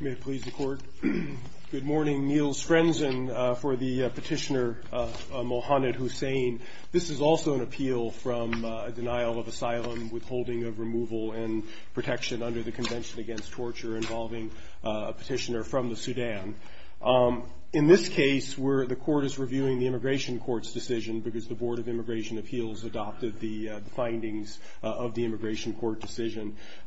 May it please the Court. Good morning. Niels Frenzen for the Petitioner Mohamed Hussein. This is also an appeal from a denial of asylum, withholding of removal and protection under the Convention Against Torture involving a petitioner from the Sudan. In this case, the Court is reviewing the Immigration Court's decision because the Board of Immigration Court decision.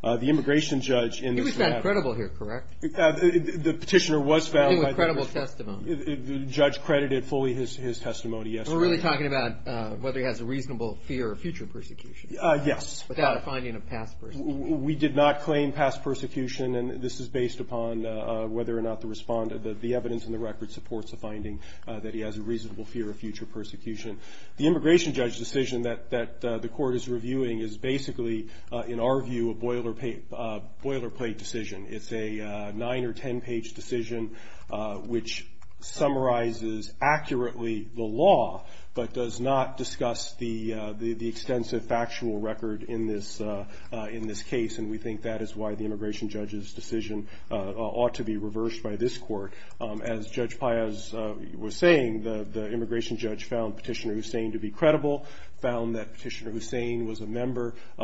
The Immigration Judge in the... He was found credible here, correct? The petitioner was found by the... He was found with credible testimony. The judge credited fully his testimony yesterday. We're really talking about whether he has a reasonable fear of future persecution. Yes. Without a finding of past persecution. We did not claim past persecution and this is based upon whether or not the respondent, the evidence in the record supports the finding that he has a reasonable fear of future persecution. The in our view, a boilerplate decision. It's a 9 or 10 page decision which summarizes accurately the law but does not discuss the extensive factual record in this case. And we think that is why the Immigration Judge's decision ought to be reversed by this Court. As Judge Paez was saying, the Immigration Judge found Petitioner Hussein to be credible, found that he had joined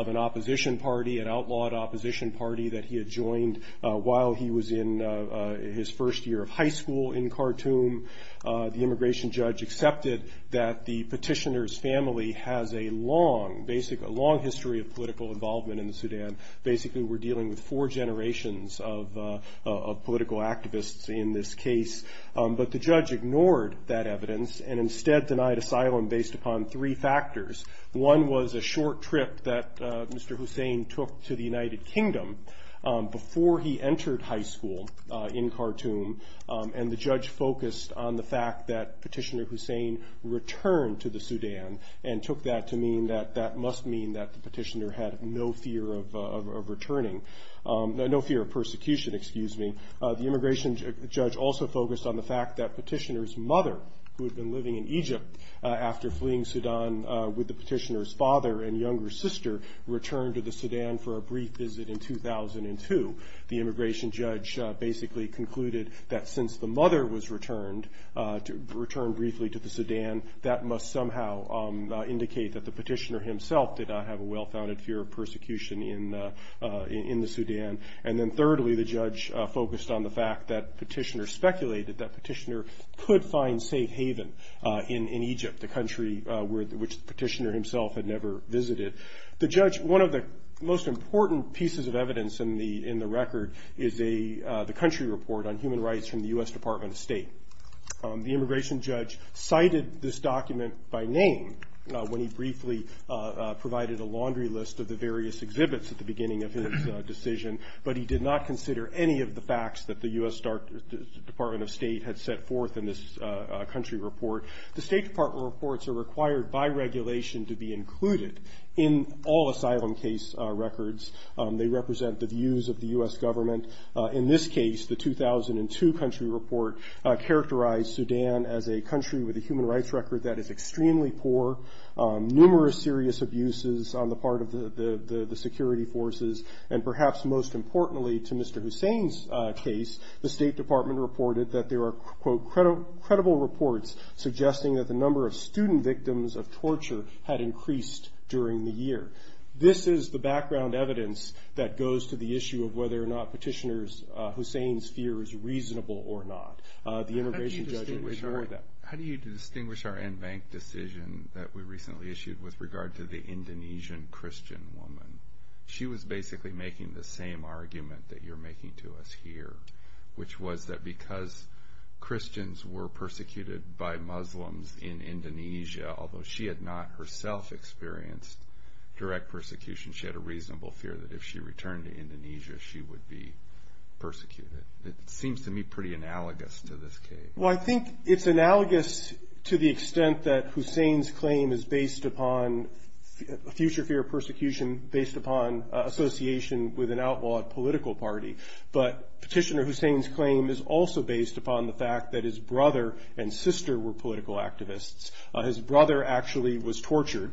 an opposition party, an outlawed opposition party that he had joined while he was in his first year of high school in Khartoum. The Immigration Judge accepted that the petitioner's family has a long history of political involvement in the Sudan. Basically we're dealing with four generations of political activists in this case. But the judge ignored that evidence and instead denied asylum based upon three factors. One was a short trip that Mr. Hussein took to the United Kingdom before he entered high school in Khartoum and the judge focused on the fact that Petitioner Hussein returned to the Sudan and took that to mean that that must mean that the petitioner had no fear of returning, no fear of persecution excuse me. The Immigration Judge also focused on the fact that Petitioner's mother who had been living in Egypt after fleeing Sudan with the petitioner's father and younger sister returned to the Sudan for a brief visit in 2002. The Immigration Judge basically concluded that since the mother was returned briefly to the Sudan that must somehow indicate that the petitioner himself did not have a well founded fear of persecution in the Sudan. And then thirdly the judge focused on the fact that Petitioner speculated that Petitioner could find safe haven in Egypt, the country which Petitioner himself had never visited. The judge, one of the most important pieces of evidence in the record is the country report on human rights from the U.S. Department of State. The Immigration Judge cited this document by name when he briefly provided a laundry list of the various exhibits at the beginning of his decision but he did not consider any of the facts that the U.S. Department of State had set forth in this country report. The State Department reports are required by regulation to be included in all asylum case records. They represent the views of the U.S. government. In this case the 2002 country report characterized Sudan as a country with a human rights record that is extremely poor, numerous serious abuses on the part of the security forces and perhaps most importantly to Mr. Hussein's case the State Department reported that there are quote credible reports suggesting that the number of student victims of torture had increased during the year. This is the background evidence that goes to the issue of whether or not Petitioner's Hussein's fear is reasonable or not. The Immigration Judge ignored that. How do you distinguish our en banc decision that we recently issued with regard to the Indonesian Christian woman? She was basically making the same argument that you're making to us here which was that because Christians were persecuted by Muslims in Indonesia although she had not herself experienced direct persecution she had a reasonable fear that if she returned to Indonesia she would be persecuted. It seems to me pretty analogous to this case. Well I think it's analogous to the extent that Hussein's claim is based upon future fear persecution based upon association with an outlawed political party but Petitioner Hussein's claim is also based upon the fact that his brother and sister were political activists. His brother actually was tortured.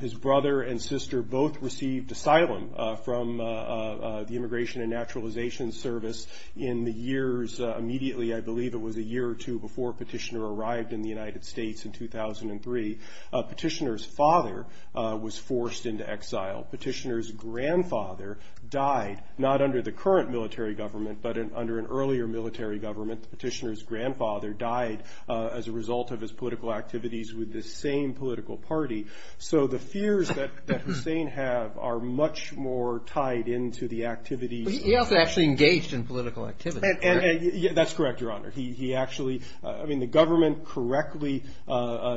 His brother and sister both received asylum from the Immigration and Naturalization Service in the years immediately I believe it was a year or two before Petitioner arrived in the United States in 2003. Petitioner's father was forced into exile. Petitioner's grandfather died not under the current military government but under an earlier military government. Petitioner's grandfather died as a result of his political activities with the same political party. So the fears that Hussein have are much more tied into the activities He also actually engaged in political activities. That's correct your honor. He actually I mean the government correctly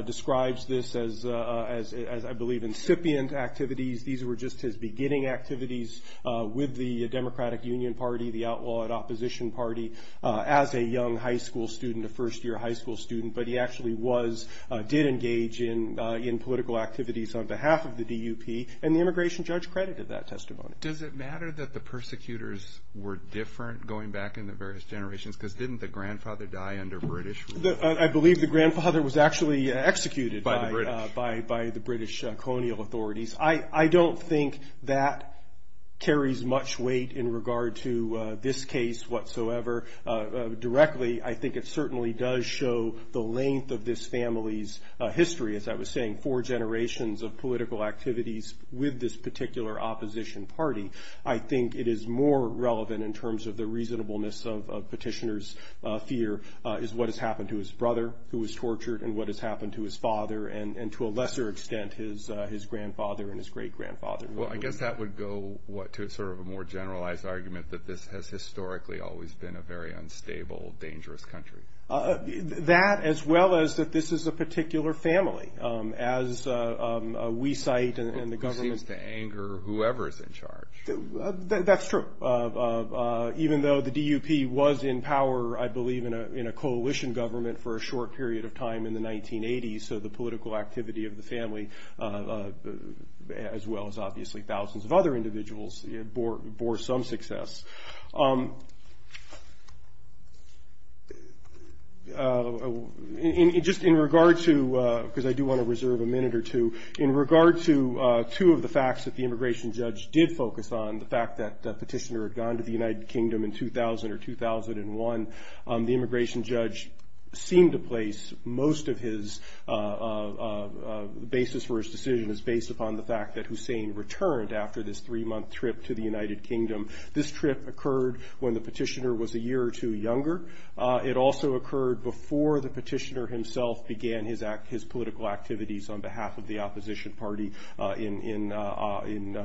describes this as I believe incipient activities. These were just his beginning activities with the Democratic Union Party the outlawed opposition party as a young high school student a first year high school student. But he actually was did engage in in political activities on behalf of the DUP and the immigration judge credited that testimony. Does it matter that the persecutors were different going back in the various generations because didn't the grandfather die under British rule? I believe the grandfather was actually executed by the British colonial authorities. I don't think that carries much weight in regard to this case whatsoever. Directly I think it certainly does show the length of this family's history as I was saying four generations of political activities with this particular opposition party. I think it is more relevant in terms of the reasonableness of petitioners fear is what has happened to his brother who was tortured and what has happened to his father and to a lesser extent his his grandfather and his great grandfather. Well I guess that would go what to sort of a more generalized argument that this has historically always been a very unstable dangerous country. That as well as that this is a particular family as we cite in the government. Seems to anger whoever is in charge. That's true. Even though the DUP was in power I believe in a coalition government for a short period of time in the 1980s. So the political activity of the family as well as obviously thousands of other individuals bore some success. Just in regard to because I do want to reserve a minute or two in regard to two of the facts that the immigration judge did focus on the fact that the petitioner had gone to the United Kingdom in 2000 or 2001. The immigration judge seemed to place most of his basis for his decision is based upon the fact that Hussein returned after this three month trip to the United his act his political activities on behalf of the opposition party in in in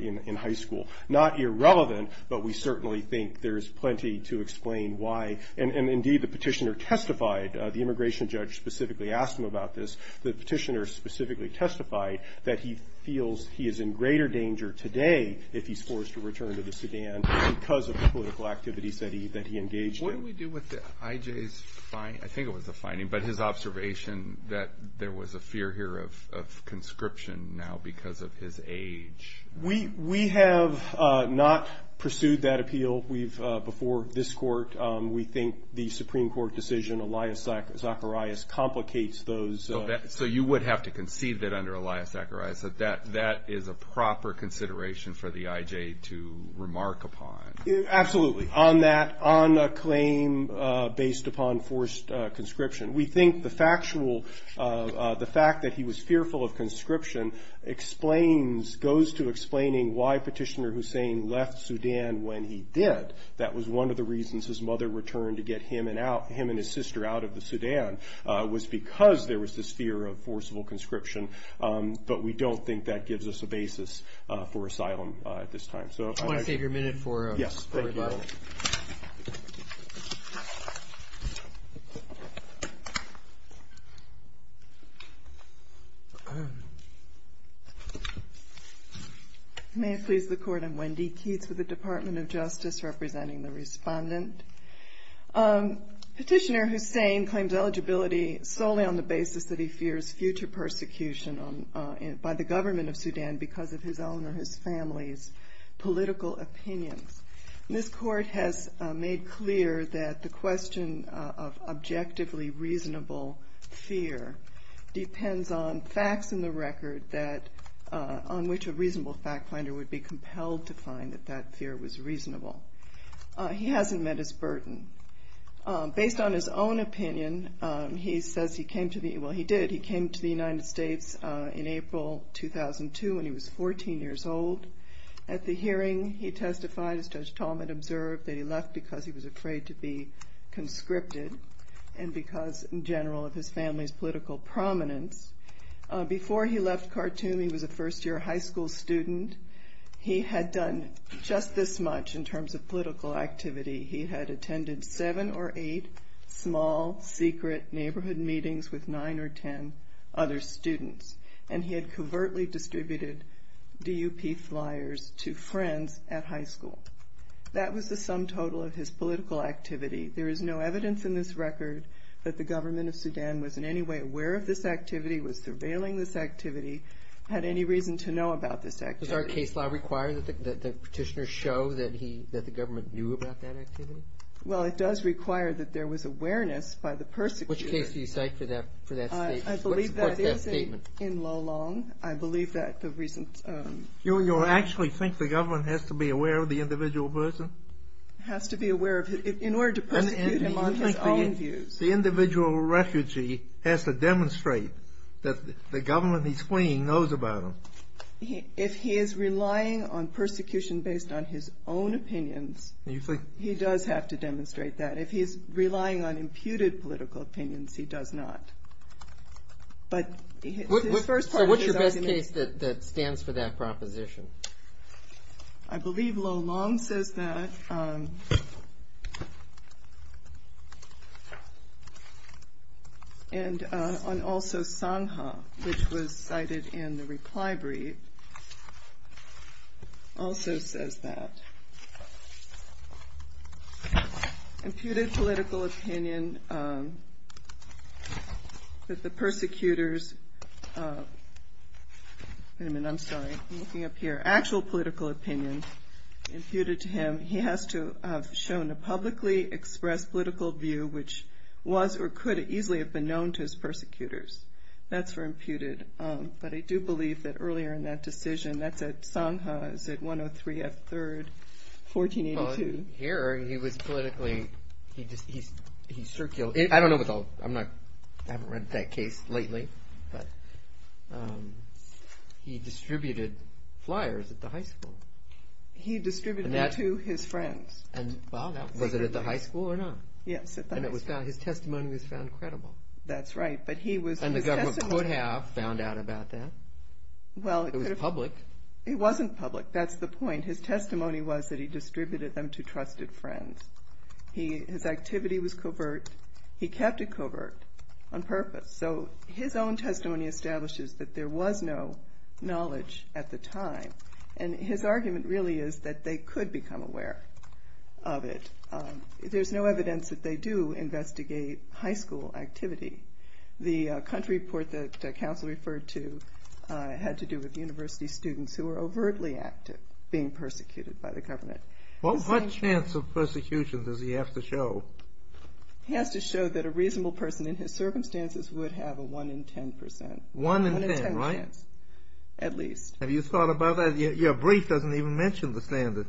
in in high school. Not irrelevant but we certainly think there is plenty to explain why. And indeed the petitioner testified the immigration judge specifically asked him about this. The petitioner specifically testified that he feels he is in greater danger today if he's forced to return to the Sudan because of the political activities that he that he engaged in. What do we do with the IJ's finding? I think it was a finding but his observation that there was a fear here of conscription now because of his age. We we have not pursued that appeal. We've before this court we think the Supreme Court decision Elias Zacharias complicates those. So you would have to concede that under Elias Zacharias that that that is a proper consideration for the IJ to remark upon. Absolutely on that on a claim based upon forced conscription. We think the factual the fact that he was fearful of conscription explains goes to explaining why Petitioner Hussein left Sudan when he did. That was one of the reasons his mother returned to get him and out him and his sister out of the Sudan was because there was this fear of forcible conscription. But we don't think that gives us a basis for asylum at this time. So if I take your minute for. Yes. May it please the court I'm Wendy Keats with the Department of Justice representing the respondent. Petitioner Hussein claims eligibility solely on the basis that he fears future persecution by the government of Sudan because of his own or his family's political opinions. This court has made clear that the question of objectively reasonable fear depends on facts in the record that on which a burden based on his own opinion. He says he came to me. Well he did. He came to the United States in April 2002 when he was 14 years old. At the hearing he testified as Judge Talmadge observed that he left because he was afraid to be conscripted and because in general of his family's political prominence. Before he left Khartoum he was a first year high school student. He had done just this much in terms of attending seven or eight small secret neighborhood meetings with nine or 10 other students. And he had covertly distributed DUP flyers to friends at high school. That was the sum total of his political activity. There is no evidence in this record that the government of Sudan was in any way aware of this activity was surveilling this activity had any reason to know about this act. Does our case law require that the petitioner show that he that the government knew about that activity. Well it does require that there was awareness by the person. Which case do you cite for that for that. I believe that is in low long. I believe that the reason you actually think the government has to be aware of the individual person has to be aware of it in order to put him on his own views. The individual refugee has to demonstrate that the government he's fleeing knows about him. If he is relying on persecution based on his own opinions. You think he does have to demonstrate that if he's relying on imputed political opinions he does not. But what's your best case that stands for that proposition. I believe low long says that. And on also Sangha which was cited in the reply brief also says that. Imputed political opinion that the persecutors. I'm sorry I'm looking up here actual political opinion imputed to him. He has to have shown a publicly expressed political view which was or could easily have been known to his persecutors. That's for imputed. But I do believe that earlier in that decision that's at Sangha is at 103 at 3rd 1482. Here he was politically he just He distributed that to his friends. And was it at the high school or not. Yes. And it was his testimony was found credible. That's right. But he was and the government could have found out about that. Well it was public. It wasn't public. That's the point. His testimony was that he distributed them to trusted friends. He his activity was covert. He kept it covert on purpose. So his own testimony establishes that there was no knowledge at the time. And his argument really is that they could become aware of it. There's no evidence that they do investigate high school activity. The country report the council referred to had to do with university students who were overtly active being persecuted by the government. What chance of persecution does he have to show. He has to show that a reasonable person in his circumstances would have a one in 10 percent. One in 10. Right. At least. Have you thought about that. Your brief doesn't even mention the standard.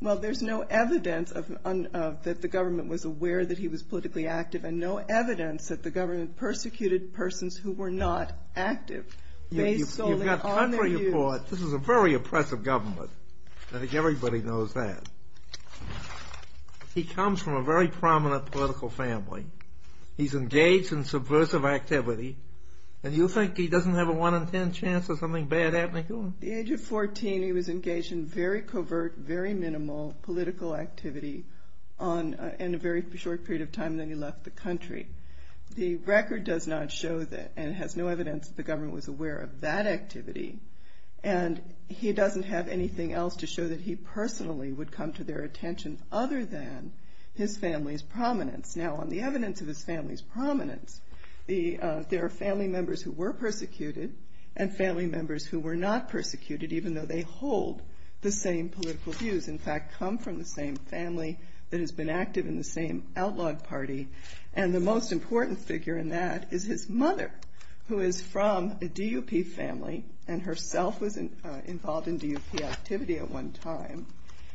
Well there's no evidence of that the government was aware that he was politically active and no evidence that the government was not active. This is a very oppressive government. I think everybody knows that. He comes from a very prominent political family. He's engaged in subversive activity. And you think he doesn't have a one in 10 chance of something bad happening to him. At the age of 14 he was engaged in very covert very minimal political activity on in a very short period of time. Then he left the country. The record does not show that and has no evidence the government was aware of that activity. And he doesn't have anything else to show that he personally would come to their attention other than his family's prominence. Now on the evidence of his family's prominence the there are family members who were persecuted and family members who were not persecuted even though they hold the same political views. In fact come from the same family that has been active in the same outlawed party. And the most important figure in that is his mother who is from a DUP family and herself was involved in DUP activity at one time.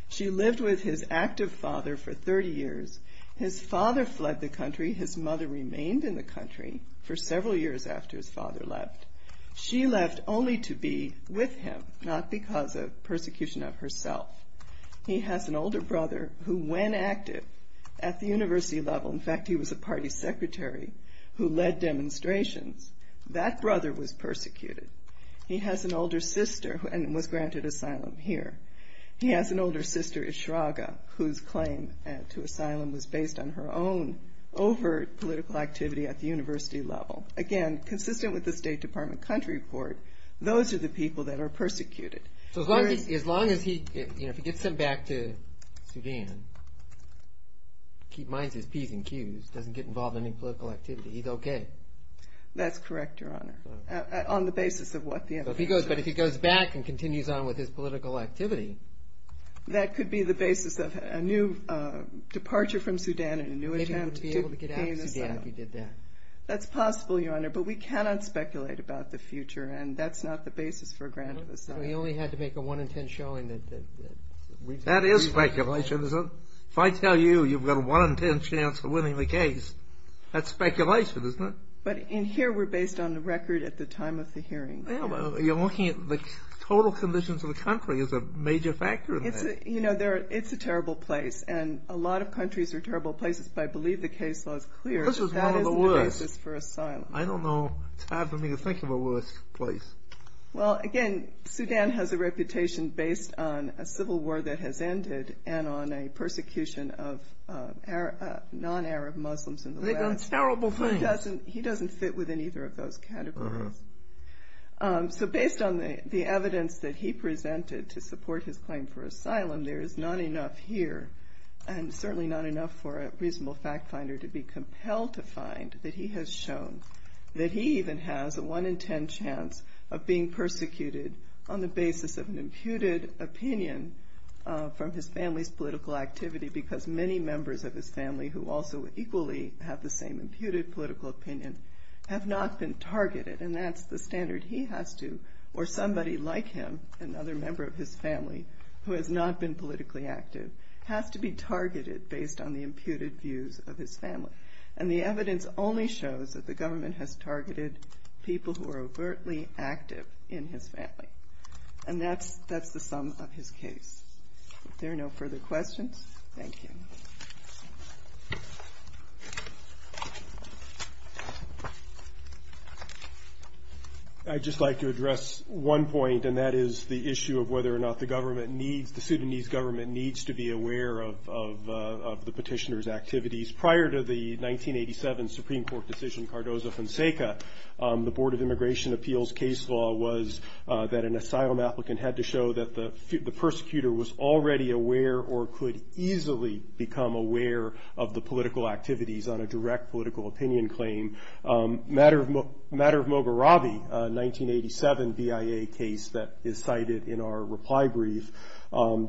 She lived with his active father for 30 years. His father fled the He has an older brother who when active at the university level in fact he was a party secretary who led demonstrations. That brother was persecuted. He has an older sister and was granted asylum here. He has an older sister Ishraga whose claim to asylum was based on her own overt political activity at the university level. Again if he gets him back to Sudan. Keep in mind he has P's and Q's. Doesn't get involved in any political activity. He's OK. That's correct Your Honor. On the basis of what the But if he goes back and continues on with his political activity. That could be the basis of a new departure from Sudan and a new attempt to gain asylum. Maybe he would be able to get out of Sudan if he did that. That's possible Your Honor but we cannot speculate about the future and that's not the basis for a grant of asylum. So you only had to make a 1 in 10 showing that. That is speculation. If I tell you you've got a 1 in 10 chance of winning the case. That's speculation isn't it. But in here we're based on the record at the time of the hearing. You're looking at the total conditions of the country as a major factor. You know it's a terrible place and a lot of countries are terrible places but I believe the case law is clear. This is one of the worst. That is the basis for asylum. I don't know. It's hard for me to think of a worse place. Well again Sudan has a reputation based on a civil war that has ended and on a persecution of non-Arab Muslims. It's a terrible thing. He doesn't fit within either of those categories. So based on the evidence that he presented to support his claim for asylum there is not enough here and certainly not enough for a reasonable fact finder to be compelled to find that he has shown that he even has a 1 in 10 chance of being persecuted on the basis of an imputed opinion from his family's political activity because many members of his family who also equally have the same imputed political opinion have not been targeted and that's the standard he has to or somebody like him, another member of his family who has not been politically active has to be targeted based on the imputed views of his family. And the evidence only shows that the government has targeted people who are overtly active in his family. And that's the sum of his case. If there are no further questions, thank you. I'd just like to address one point and that is the issue of whether or not the government needs, the Sudanese government needs to be aware of the petitioner's activities. Prior to the 1987 Supreme Court decision, Cardozo Fonseca, the Board of Immigration Appeals case law was that an asylum applicant had to show that the persecutor was already aware or could easily be aware of the fact that he was being persecuted on the basis of an imputed opinion from his family. And that he could become aware of the political activities on a direct political opinion claim. Matter of Mogherabi, a 1987 BIA case that is cited in our reply brief,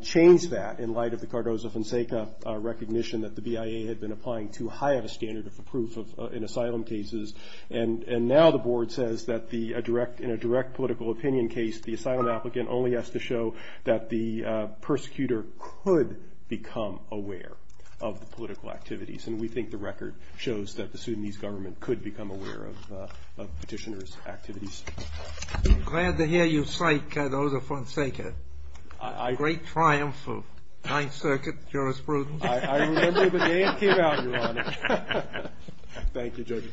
changed that in light of the Cardozo Fonseca recognition that the BIA had been applying too high of a standard of proof in asylum cases and now the Board says that in a direct political opinion case, the asylum applicant only has to show that the persecutor could become aware. Of the political activities and we think the record shows that the Sudanese government could become aware of petitioner's activities. Glad to hear you cite Cardozo Fonseca. A great triumph of 9th Circuit jurisprudence. I remember the day it came out, Your Honor. Thank you, Judge.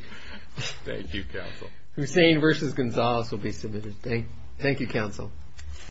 Thank you, Counsel. Hussain v. Gonzalez will be submitted. Thank you, Counsel.